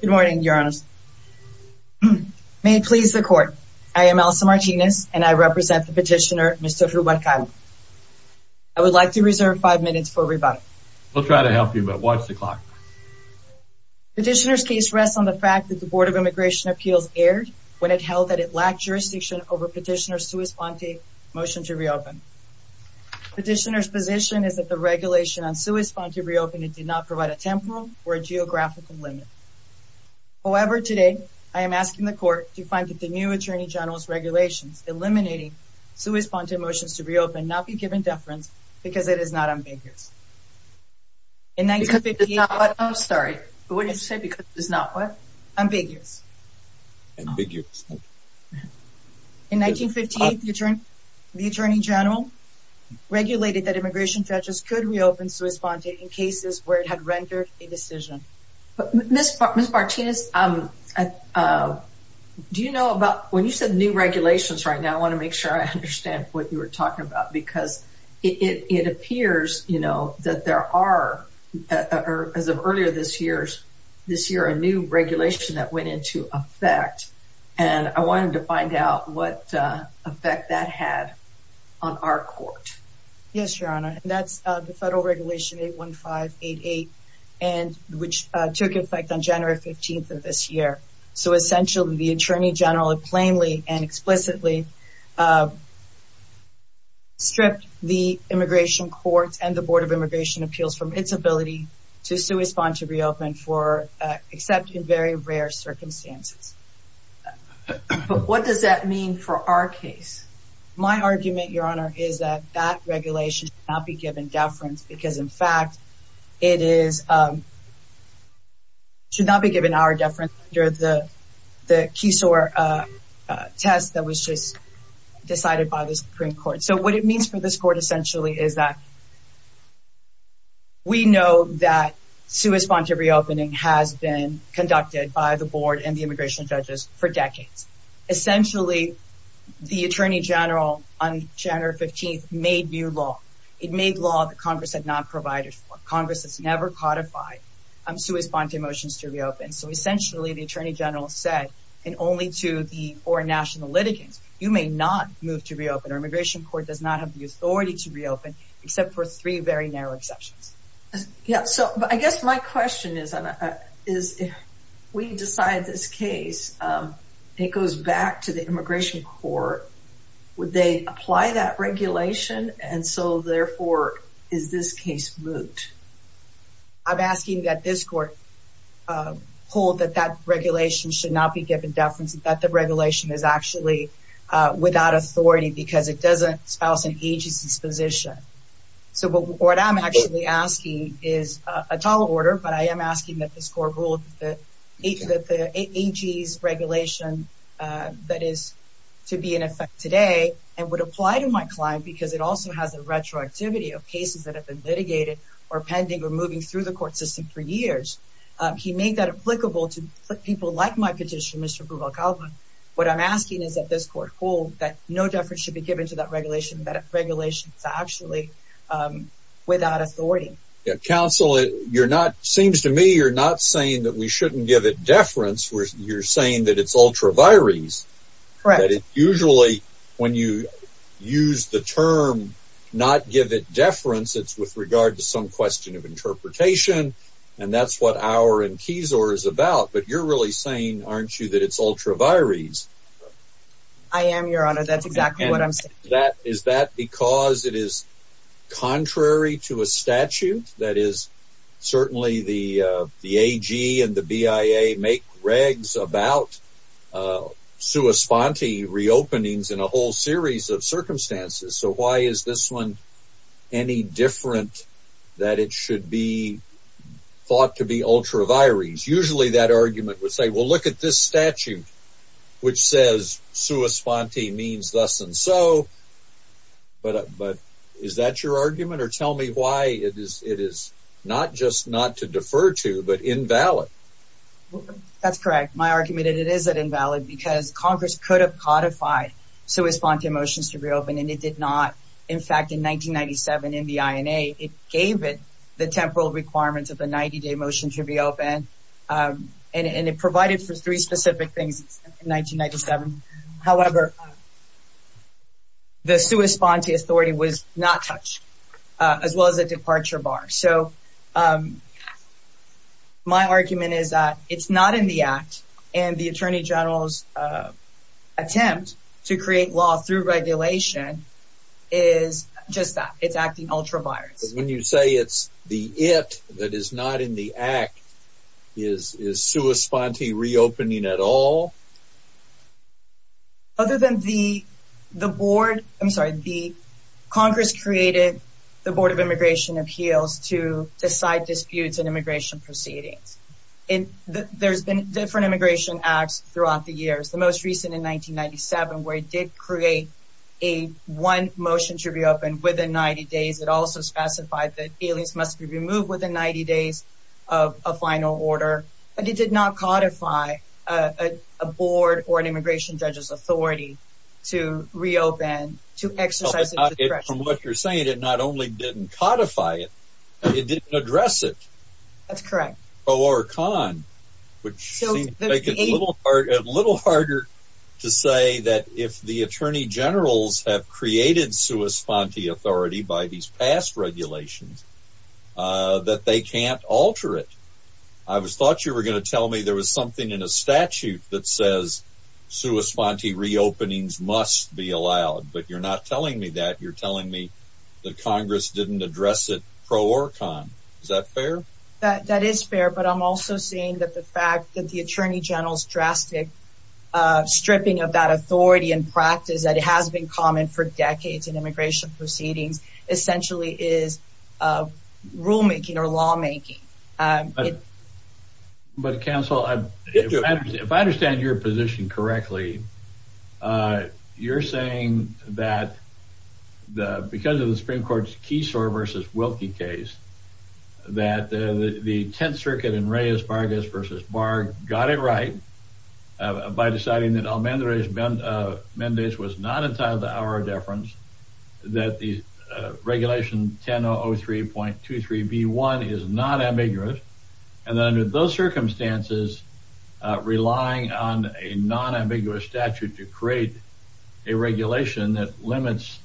Good morning, Your Honor. May it please the court, I am Elsa Martinez and I represent the petitioner Mr. Rubalcaba. I would like to reserve five minutes for rebuttal. We'll try to help you but watch the clock. Petitioner's case rests on the fact that the Board of Immigration Appeals erred when it held that it lacked jurisdiction over petitioner's sui sponte motion to reopen. Petitioner's position is that the regulation on sui sponte reopening did not provide a temporal or a geographical limit. However, today I am asking the court to find that the new Attorney General's regulations eliminating sui sponte motions to reopen not be given deference because it is not ambiguous. Because it is not what? I'm sorry, what did you say? Because it is not what? Ambiguous. Ambiguous. In 1958, the Attorney General regulated that immigration judges could reopen sui sponte in cases where it had rendered a decision. Ms. Martinez, do you know about, when you said new regulations right now, I want to make sure I understand what you were talking about because it appears, you know, that there are, as of earlier this year, this year a new regulation that went into effect and I wanted to find out what effect that had on our court. Yes, Your Honor, that's the federal regulation 81588 and which took effect on January 15th of this year. So essentially, the Attorney General plainly and explicitly stripped the immigration courts and the Board of Immigration Appeals from its ability to sui sponte to reopen for, except in very rare circumstances. But what does that mean for our case? My argument, Your Honor, is that that regulation should not be given deference because, in fact, it is, should not be given our deference under the Keysore test that was just decided by the Supreme Court. So what it means for this court essentially is that we know that sui sponte reopening has been conducted by the Board and the immigration judges for decades. Essentially, the Attorney General on January 15th made new law. It made law that Congress had not provided for. Congress has never codified sui sponte motions to reopen. So essentially, the Attorney General said, and only to the four national litigants, you may not move to reopen. Our immigration court does not have the authority to reopen, except for three very narrow exceptions. Yeah, so I guess my question is, if we decide this case, it goes back to the immigration court, would they apply that regulation? And so therefore, is this case moot? I'm asking that this court hold that that regulation should not be given deference, that the regulation is actually without authority because it doesn't espouse an agency's position. So what I'm actually asking is a tall order, but I am asking that this court hold that the AG's regulation that is to be in effect today and would apply to my client because it also has a retroactivity of cases that have been litigated or pending or moving through the What I'm asking is that this court hold that no deference should be given to that regulation, that regulation is actually without authority. Counselor, you're not, seems to me, you're not saying that we shouldn't give it deference. You're saying that it's ultra vires. Correct. Usually, when you use the term, not give it deference, it's with regard to some question of interpretation. And that's what our keys or is about. But you're really saying, aren't you, it's ultra vires? I am, Your Honor. That's exactly what I'm saying. Is that because it is contrary to a statute that is certainly the the AG and the BIA make regs about sua sponte reopenings in a whole series of circumstances. So why is this one any different that it should be thought to be ultra vires? Usually that argument would say, well, look at this statute, which says sua sponte means thus and so. But but is that your argument? Or tell me why it is it is not just not to defer to but invalid. That's correct. My argument is that invalid because Congress could have codified sua sponte motions to reopen and it did not. In fact, in 1997, in the INA, it gave it the temporal requirements of the 90 day motion to reopen. And it provided for three specific things in 1997. However, the sua sponte authority was not touched, as well as a departure bar. So my argument is that it's not in the act. And the Attorney General's attempt to create law through regulation is just that it's acting ultra vires. When you say it's the it that is not in the act, is is sua sponte reopening at all? Other than the, the board, I'm sorry, the Congress created the Board of Immigration Appeals to decide disputes and immigration proceedings. And there's been different immigration acts throughout the years, the most recent in 1997, where it did create a one motion to reopen within 90 days, it also specified that aliens must be 90 days of a final order. And it did not codify a board or an immigration judges authority to reopen to exercise from what you're saying that not only didn't codify it, it didn't address it. That's correct. Oh, or con, which are a little harder to say that if the Attorney General's have created sua sponte authority by these past regulations, that they can't alter it. I was thought you were going to tell me there was something in a statute that says sua sponte reopenings must be allowed. But you're not telling me that you're telling me that Congress didn't address it pro or con. Is that fair? That that is fair. But I'm also seeing that the fact that Attorney General's drastic stripping of that authority and practice that has been common for decades in immigration proceedings essentially is rulemaking or lawmaking. But counsel, if I understand your position correctly, you're saying that the because of the Supreme Court's got it right by deciding that I'll mend the race. Ben Mendez was not entitled to our deference that the regulation 1003.23 B one is not ambiguous. And under those circumstances, relying on a non ambiguous statute to create a regulation that limits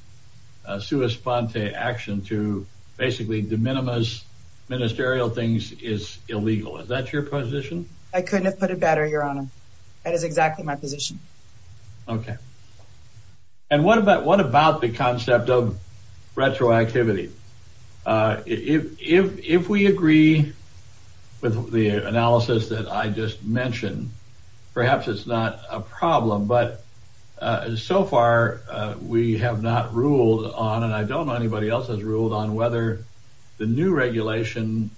sua sponte action to basically de minimis ministerial things is illegal. Is that your position? I couldn't have put it better, Your Honor. That is exactly my position. Okay. And what about what about the concept of retroactivity? Uh, if if if we agree with the analysis that I just mentioned, perhaps it's not a problem. But so far, we have not ruled on, and I don't know anybody else has ruled on whether the new regulation,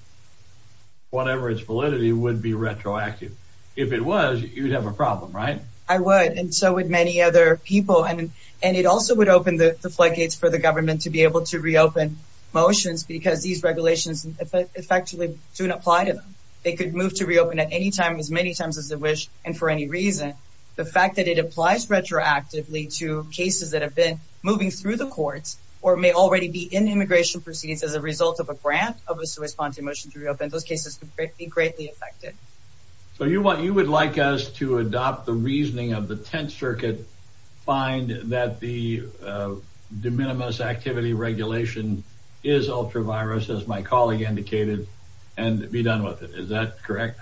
whatever its validity, would be retroactive. If it was, you'd have a problem, right? I would. And so would many other people. And and it also would open the floodgates for the government to be able to reopen motions because these regulations effectively don't apply to them. They could move to reopen at any time, as many times as they wish. And for any reason, the fact that it applies retroactively to cases that have been moving through the courts or may already be in immigration proceedings as a result of a grant of a sua sponte motion to reopen those cases could be greatly affected. So you want you would like us to adopt the reasoning of the Tenth Circuit find that the de minimis activity regulation is ultra virus, as my colleague indicated, and be done with it. Is that correct?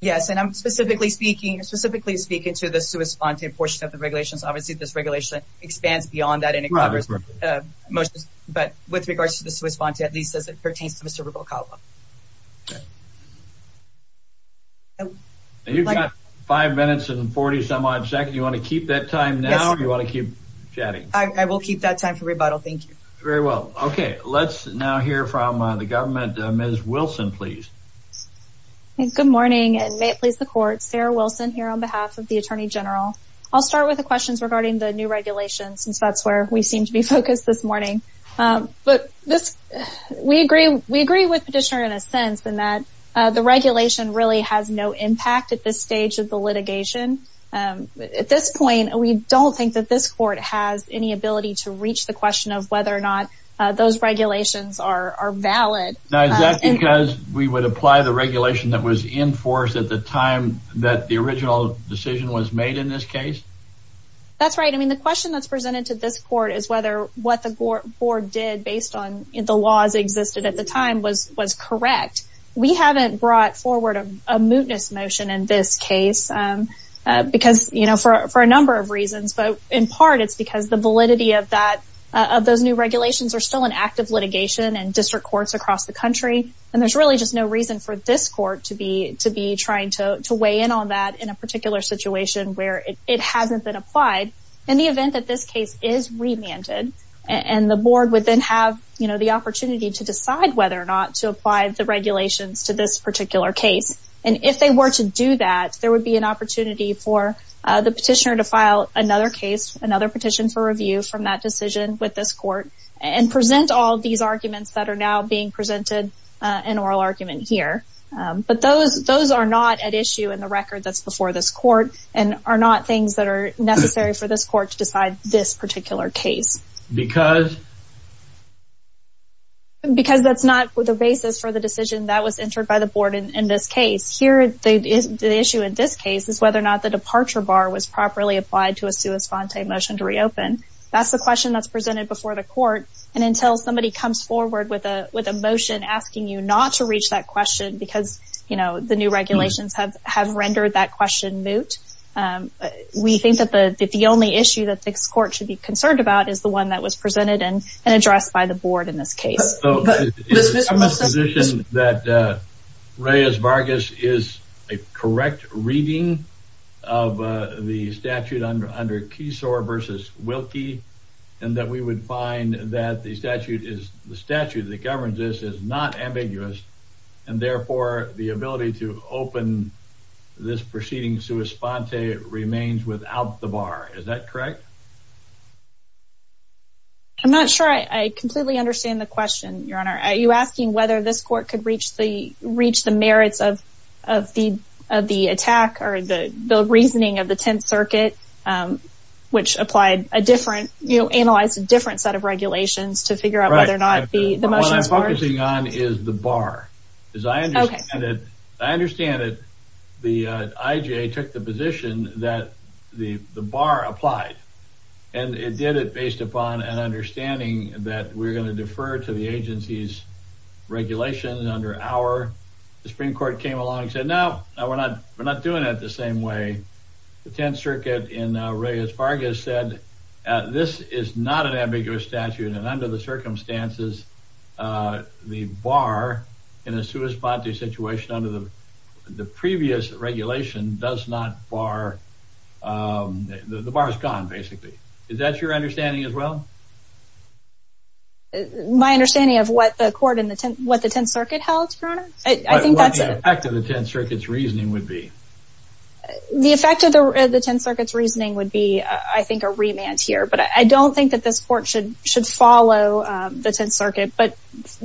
Yes. And I'm specifically speaking specifically speaking to the sua sponte portion of the regulations. Obviously, this regulation expands beyond that in Congress motions. But with regards to the sua sponte, at least as it pertains to Mr. Rubalcaba. You've got five minutes and 40 some odd second. You want to keep that time now? You want to keep chatting? I will keep that time for rebuttal. Thank you very well. Okay, let's now hear from the government. Ms. Wilson, please. Good morning and may it please the court. Sarah on behalf of the Attorney General. I'll start with the questions regarding the new regulations, since that's where we seem to be focused this morning. But this, we agree, we agree with petitioner in a sense than that the regulation really has no impact at this stage of the litigation. At this point, we don't think that this court has any ability to reach the question of whether or not those regulations are valid. Now, is that because we would apply the regulation that was enforced at the time that the original decision was made in this case? That's right. I mean, the question that's presented to this court is whether what the board did based on the laws existed at the time was was correct. We haven't brought forward a mootness motion in this case. Because you know, for a number of reasons, but in part, it's because the validity of that, of those new regulations are still an active litigation and district courts across the country. And there's really just no reason for this court to be to be trying to weigh in on that in a particular situation where it hasn't been applied in the event that this case is remanded. And the board would then have, you know, the opportunity to decide whether or not to apply the regulations to this particular case. And if they were to do that, there would be an opportunity for the petitioner to file another case, another petition for review from that decision with this in oral argument here. But those those are not at issue in the record that's before this court and are not things that are necessary for this court to decide this particular case. Because? Because that's not the basis for the decision that was entered by the board in this case. Here, the issue in this case is whether or not the departure bar was properly applied to a sua sponte motion to reopen. That's the question that's presented before the court. And until somebody comes forward with a with a motion asking you not to reach that question, because, you know, the new regulations have have rendered that question moot. We think that the the only issue that this court should be concerned about is the one that was presented and addressed by the board in this case. That Reyes Vargas is a correct reading of the statute under under the statute that governs this is not ambiguous, and therefore the ability to open this proceeding sua sponte remains without the bar. Is that correct? I'm not sure I completely understand the question, your honor. Are you asking whether this court could reach the reach the merits of of the of the attack or the the reasoning of the Tenth Circuit, which applied a different, you know, analyzed a different set of regulations to figure out whether or not the motions were? What I'm focusing on is the bar. As I understand it, I understand that the IGA took the position that the the bar applied, and it did it based upon an understanding that we're going to defer to the agency's regulations under our, the Supreme Court came along and said, no, we're not we're not doing it the same way. The Tenth Circuit in Reyes Vargas said this is not an ambiguous statute and under the circumstances the bar in a sua sponte situation under the the previous regulation does not bar. The bar is gone, basically. Is that your understanding as well? My understanding of what the court in the what the Tenth Circuit held, your honor? I think that's the effect of the Tenth Circuit's reasoning would be. The effect of the Tenth Circuit's reasoning would be, I think, a remand here, but I don't think that this court should should follow the Tenth Circuit. But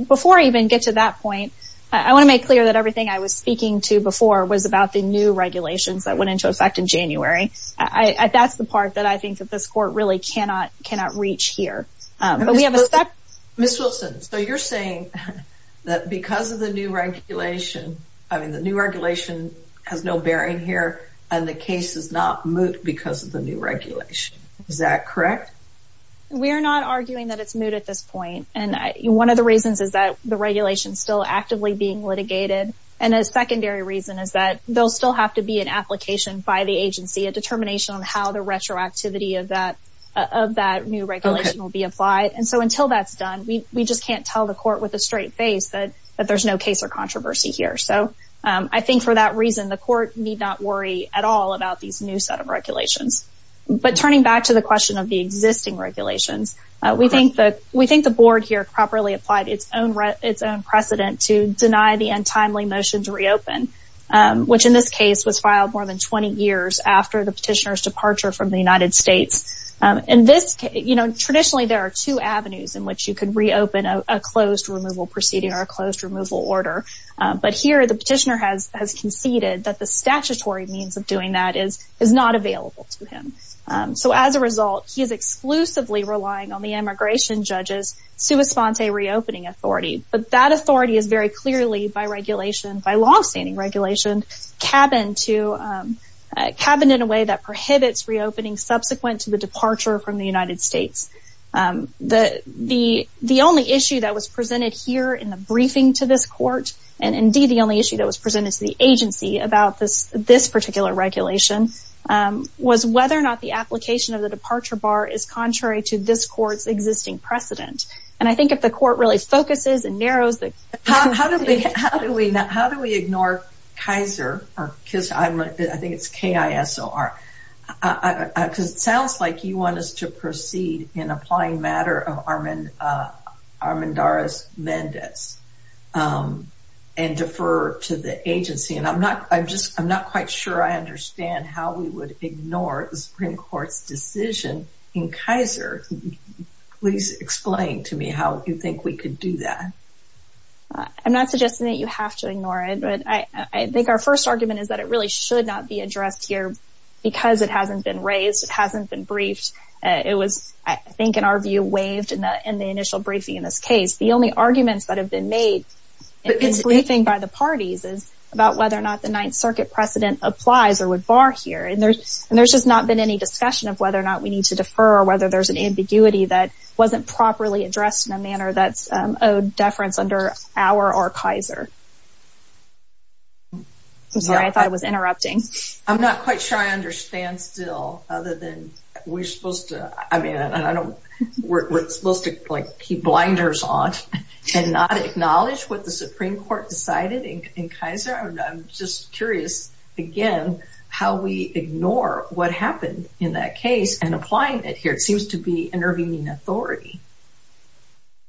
before I even get to that point, I want to make clear that everything I was speaking to before was about the new regulations that went into effect in January. I that's the part that I think that this court really cannot cannot reach here. But we have a. Ms. Wilson, so you're saying that because of the new regulation, I mean, the new regulation has no bearing here and the case is not moot because of the new regulation. Is that correct? We are not arguing that it's moot at this point. And one of the reasons is that the regulation is still actively being litigated. And a secondary reason is that they'll still have to be an application by the agency, a determination on how the retroactivity of that new regulation will be applied. And so until that's done, we just can't tell the court with a straight face that that there's no case or controversy here. So I think for that reason, the court need not worry at all about these new set of regulations. But turning back to the question of the existing regulations, we think that we think the board here properly applied its own its own precedent to deny the untimely motion to reopen, which in this case was filed more than 20 years after the petitioner's departure from the United States. And this, you know, traditionally there are two avenues in which you could reopen a closed removal proceeding or a closed removal order. But here the petitioner has conceded that the statutory means of doing that is not available to him. So as a result, he is exclusively relying on the immigration judge's sua sponte reopening authority. But that authority is very clearly by regulation, by long-standing regulation, cabined in a way that prohibits reopening subsequent to the departure from the United States. The only issue that was presented here in the briefing to this court, and indeed the only issue that was presented to the agency about this particular regulation, was whether or not the application of the departure bar is contrary to this court's existing precedent. And I think if the court really focuses and narrows... How do we ignore Kaiser? I think it's K-I-S-O-R. Because it sounds like you want us to proceed in applying matter of Armendariz-Mendez and defer to the agency. And I'm not quite sure I understand how we would ignore the Supreme Court's decision in Kaiser. Please explain to me how you think we could do that. I'm not suggesting that you have to ignore it, but I think our first argument is that it really should not be addressed here because it hasn't been raised, it hasn't been briefed. It was, I think in our view, waived in the initial briefing in this case. The only arguments that have been made in this briefing by the parties is about whether or not the Ninth Circuit precedent applies or would bar here. And there's just not been any discussion of whether or not we need to defer or whether there's an ambiguity that wasn't properly addressed in a manner that's owed deference under our or Kaiser. I'm sorry, I thought I was interrupting. I'm not quite sure I understand still, other than we're supposed to, I mean, we're supposed to keep blinders on and not acknowledge what the Supreme Court decided in Kaiser. I'm just curious, again, how we ignore what happened in that case and applying it here. It seems to be intervening authority.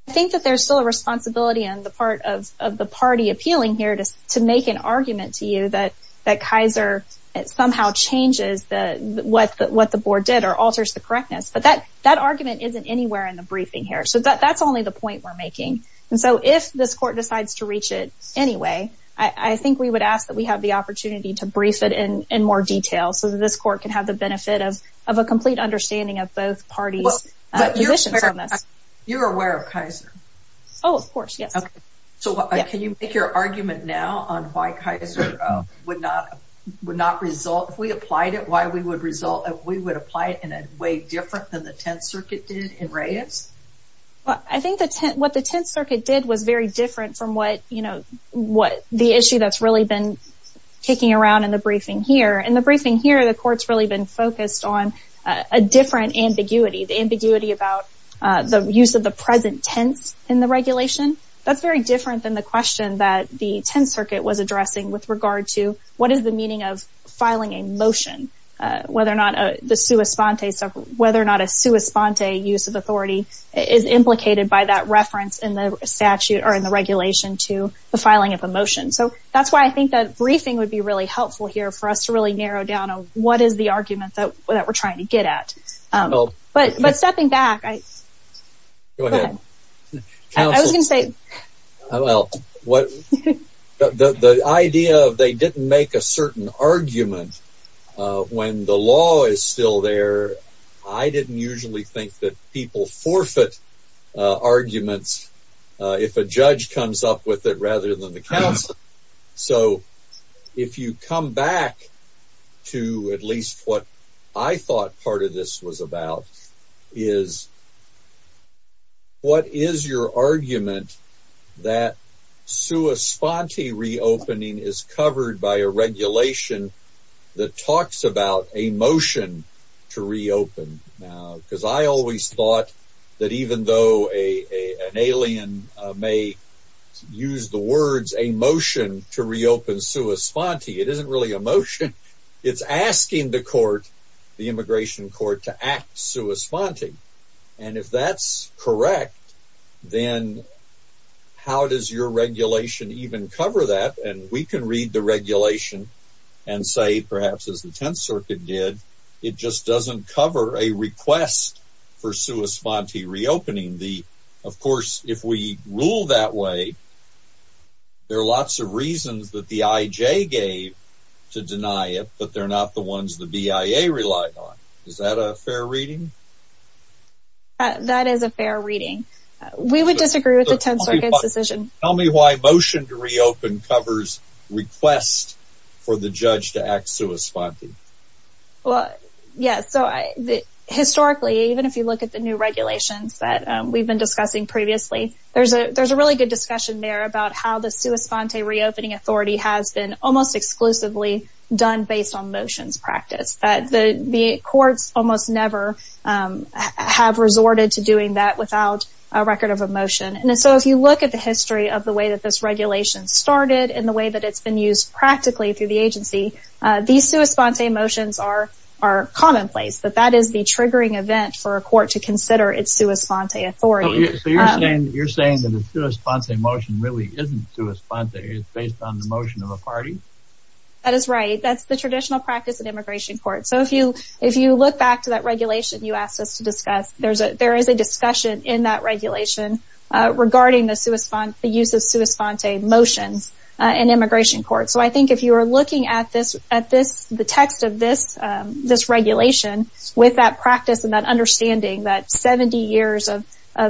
I think that there's still a responsibility on the part of the party appealing here to make an argument to you that Kaiser somehow changes what the board did or alters the correctness. But that argument isn't anywhere in the briefing here. So that's only the point we're making. And so if this court decides to reach it anyway, I think we would ask that we have the opportunity to brief it in more detail so that this court can have the benefit of a complete understanding of both parties' positions on this. You're aware of Kaiser? Oh, of course, yes. So can you make your argument now on why Kaiser would not result if we applied it, why we would result if we would than the Tenth Circuit did in Reyes? Well, I think that what the Tenth Circuit did was very different from what, you know, what the issue that's really been kicking around in the briefing here. In the briefing here, the court's really been focused on a different ambiguity, the ambiguity about the use of the present tense in the regulation. That's very different than the question that the Tenth Circuit was addressing with regard to what is the meaning of filing a not a sua sponte use of authority is implicated by that reference in the statute or in the regulation to the filing of a motion. So that's why I think that briefing would be really helpful here for us to really narrow down on what is the argument that we're trying to get at. But stepping back, I was going to say, well, the idea of they didn't make a certain argument when the law is still there. I didn't usually think that people forfeit arguments if a judge comes up with it rather than the council. So if you come back to at least what I thought part of this was about is what is your argument that sua sponte reopening is covered by a regulation that talks about a motion to reopen now? Because I always thought that even though an alien may use the words a motion to reopen sua sponte, it isn't really a motion. It's asking the court, the immigration court, to act sua sponte. And if that's correct, then how does your regulation even cover that? And we can read the regulation and say, perhaps as the Tenth Circuit did, it just doesn't cover a request for sua sponte reopening. Of course, if we rule that way, there are lots of reasons that the IJ gave to deny it, but they're not the ones the BIA relied on. Is that a fair reading? That is a fair reading. We would disagree with the Tenth Circuit's decision. Tell me why motion to reopen covers request for the judge to act sua sponte. Well, yes. So historically, even if you look at the new regulations that we've been discussing previously, there's a really good discussion there about how the sua sponte reopening authority has been almost exclusively done based on motions practice. The courts almost never have resorted to doing that without a record of a motion. And so if you look at the history of the way that this regulation started and the way that it's been used practically through the agency, these sua sponte motions are commonplace, but that is the triggering event for a court to consider its sua sponte authority. So you're saying that the sua sponte motion really isn't sua sponte, it's based on the motion of a party? That is right. That's the traditional practice in immigration court. So if you look back to that regulation you asked us to discuss, there is a discussion in that regulation regarding the use of sua sponte motions in immigration court. So I think if you are looking at the text of this regulation with that practice and that understanding, that 70 years of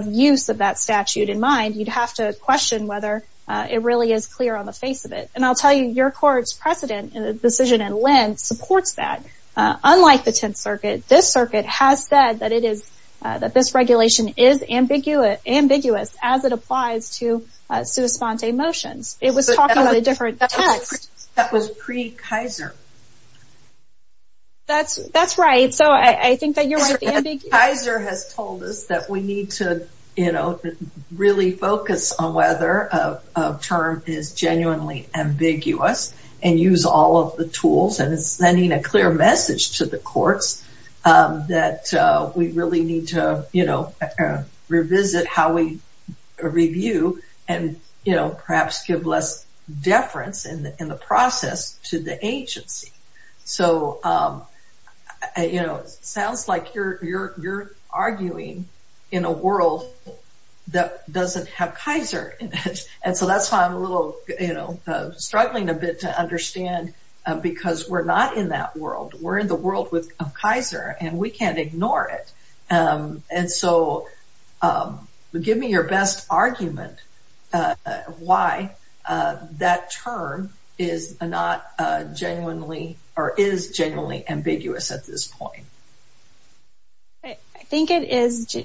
use of that statute in mind, you'd have to question whether it really is clear on the face of it. And I'll tell you, your court's precedent and decision in LEND supports that. Unlike the Tenth Circuit, this circuit has said that this regulation is ambiguous as it applies to sua sponte motions. It was talking about a different text. That was pre-Kaiser. That's right. So I think that you're right. Kaiser has told us that we need to really focus on whether a term is genuinely ambiguous and use all of the tools. And it's sending a clear message to the courts that we really need to revisit how we review and perhaps give less deference in the process to the agency. So it sounds like you're arguing in a world that doesn't have Kaiser in it. And so that's why I'm a little, you know, struggling a bit to understand because we're not in that world. We're in the world of Kaiser and we can't ignore it. And so give me your best argument why that term is not genuinely or is genuinely ambiguous at this point. I think it is.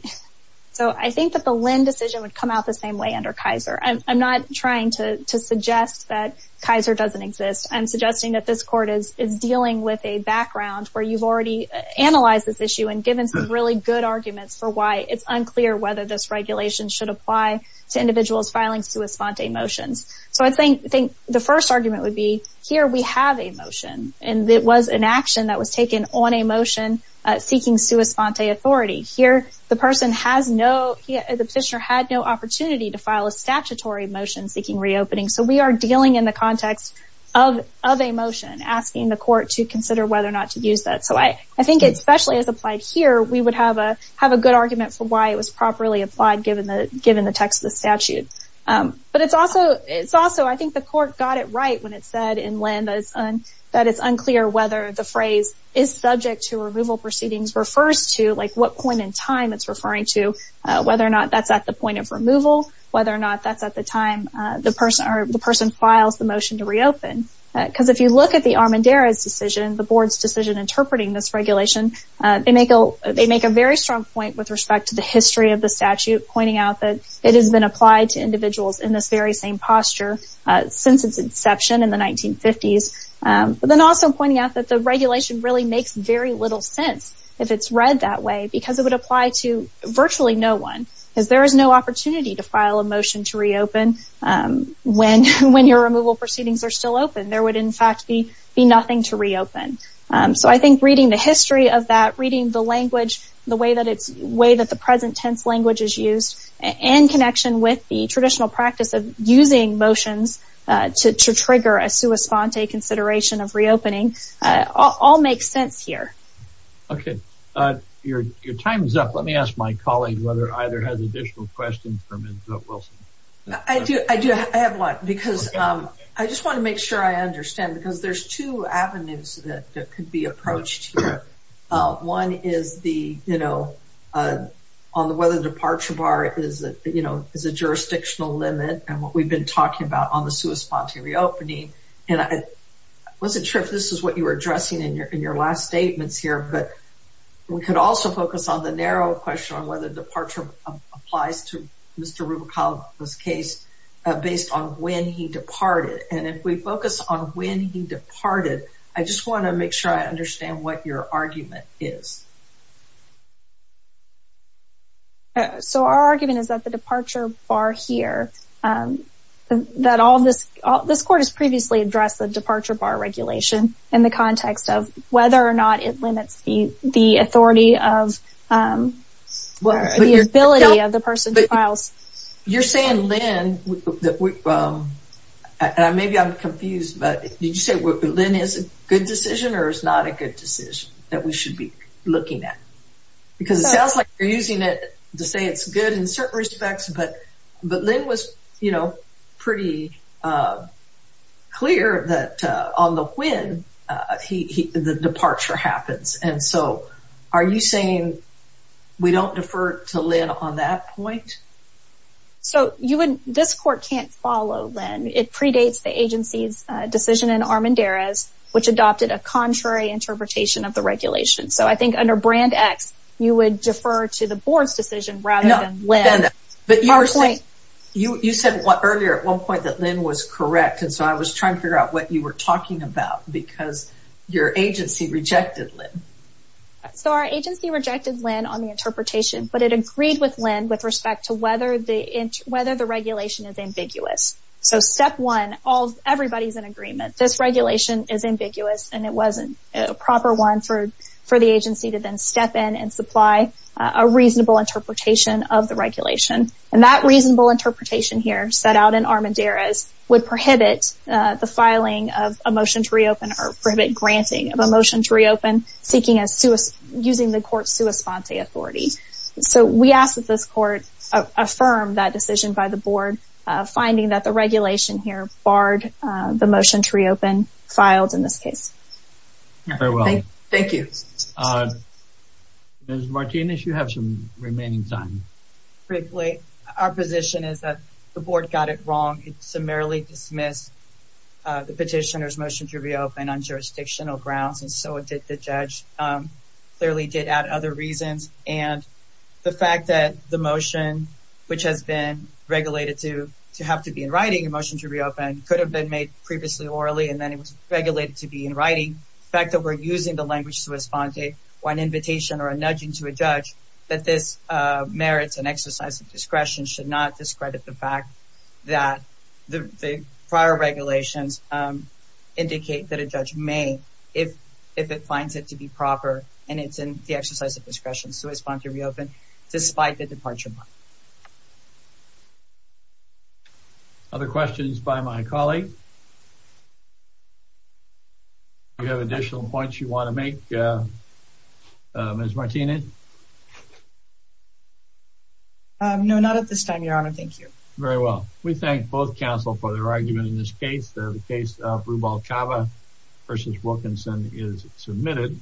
So I think that the LEND decision would come out the same way under Kaiser. I'm not trying to suggest that Kaiser doesn't exist. I'm suggesting that this court is dealing with a background where you've already analyzed this issue and given some really good arguments for why it's unclear whether this regulation should apply to individuals filing sua sponte motions. So I think the first argument would be here we have a motion and it was an on a motion seeking sua sponte authority. Here the person has no, the petitioner had no opportunity to file a statutory motion seeking reopening. So we are dealing in the context of a motion asking the court to consider whether or not to use that. So I think especially as applied here, we would have a good argument for why it was properly applied given the text of the statute. But it's also, I think the court got it right when it said in LEND that it's unclear whether the phrase is subject to removal proceedings refers to like what point in time it's referring to, whether or not that's at the point of removal, whether or not that's at the time the person files the motion to reopen. Because if you look at the Armendariz decision, the board's decision interpreting this regulation, they make a very strong point with respect to the history of the statute pointing out that it has been applied to individuals in this very same that the regulation really makes very little sense if it's read that way because it would apply to virtually no one. Because there is no opportunity to file a motion to reopen when your removal proceedings are still open. There would in fact be nothing to reopen. So I think reading the history of that, reading the language, the way that it's, the way that the present tense language is used and connection with the traditional practice of using motions to trigger a sua sponte consideration of reopening, all makes sense here. Okay, your time is up. Let me ask my colleague whether either has additional questions for Ms. Wilson. I do, I do. I have one because I just want to make sure I understand because there's two avenues that could be approached here. One is the, you know, on the weather departure bar is a, you know, is a jurisdictional limit and what we've been talking about on the sua sponte reopening. And I wasn't sure if this is what you were addressing in your, in your last statements here, but we could also focus on the narrow question on whether departure applies to Mr. Rubicaldo's case based on when he departed. And if we focus on when he departed, I just want to make sure I understand what your argument is. So our argument is that the departure bar here, that all this, this court has previously addressed the departure bar regulation in the context of whether or not it limits the, the authority of, the ability of the person to file. You're saying Lynn, that we, and maybe I'm confused, but did you say Lynn is a good decision or is not a good decision that we should be looking at? Because it sounds like you're using it to say it's good in certain respects, but, but Lynn was, you know, pretty clear that on the when he, the departure happens. And so are you saying we don't defer to Lynn on that point? So you wouldn't, this court can't follow Lynn. It predates the agency's decision in Armendariz, which adopted a contrary interpretation of the regulation. So I think under brand X, you would defer to the board's decision rather than Lynn. You, you said what earlier at one point that Lynn was correct. And so I was trying to figure out what you were talking about because your agency rejected Lynn. So our agency rejected Lynn on the interpretation, but it agreed with Lynn with respect to whether the regulation is ambiguous. So step one, all, everybody's in agreement. This regulation is ambiguous and it wasn't a proper one for, for the agency to then step in and supply a reasonable interpretation of the regulation. And that reasonable interpretation here set out in Armendariz would prohibit the filing of a motion to reopen or prohibit granting of a motion to affirm that decision by the board finding that the regulation here barred the motion to reopen filed in this case. Thank you. Ms. Martinez, you have some remaining time. Briefly, our position is that the board got it wrong. It summarily dismissed the petitioner's motion to reopen on jurisdictional grounds. And so it did, the judge clearly did add other reasons. And the fact that the motion, which has been regulated to, to have to be in writing a motion to reopen could have been made previously orally. And then it was regulated to be in writing fact that we're using the language to respond to one invitation or a nudging to a judge that this merits an exercise of discretion should not discredit the fact that the prior regulations indicate that a judge may, if, if it finds it to be proper and it's in the exercise of discretion. So it's fine to reopen despite the departure. Other questions by my colleague? Do you have additional points you want to make, Ms. Martinez? No, not at this time, your honor. Thank you. Very well. We thank both counsel for their argument in this case. The case of Rubalcava versus Wilkinson is submitted.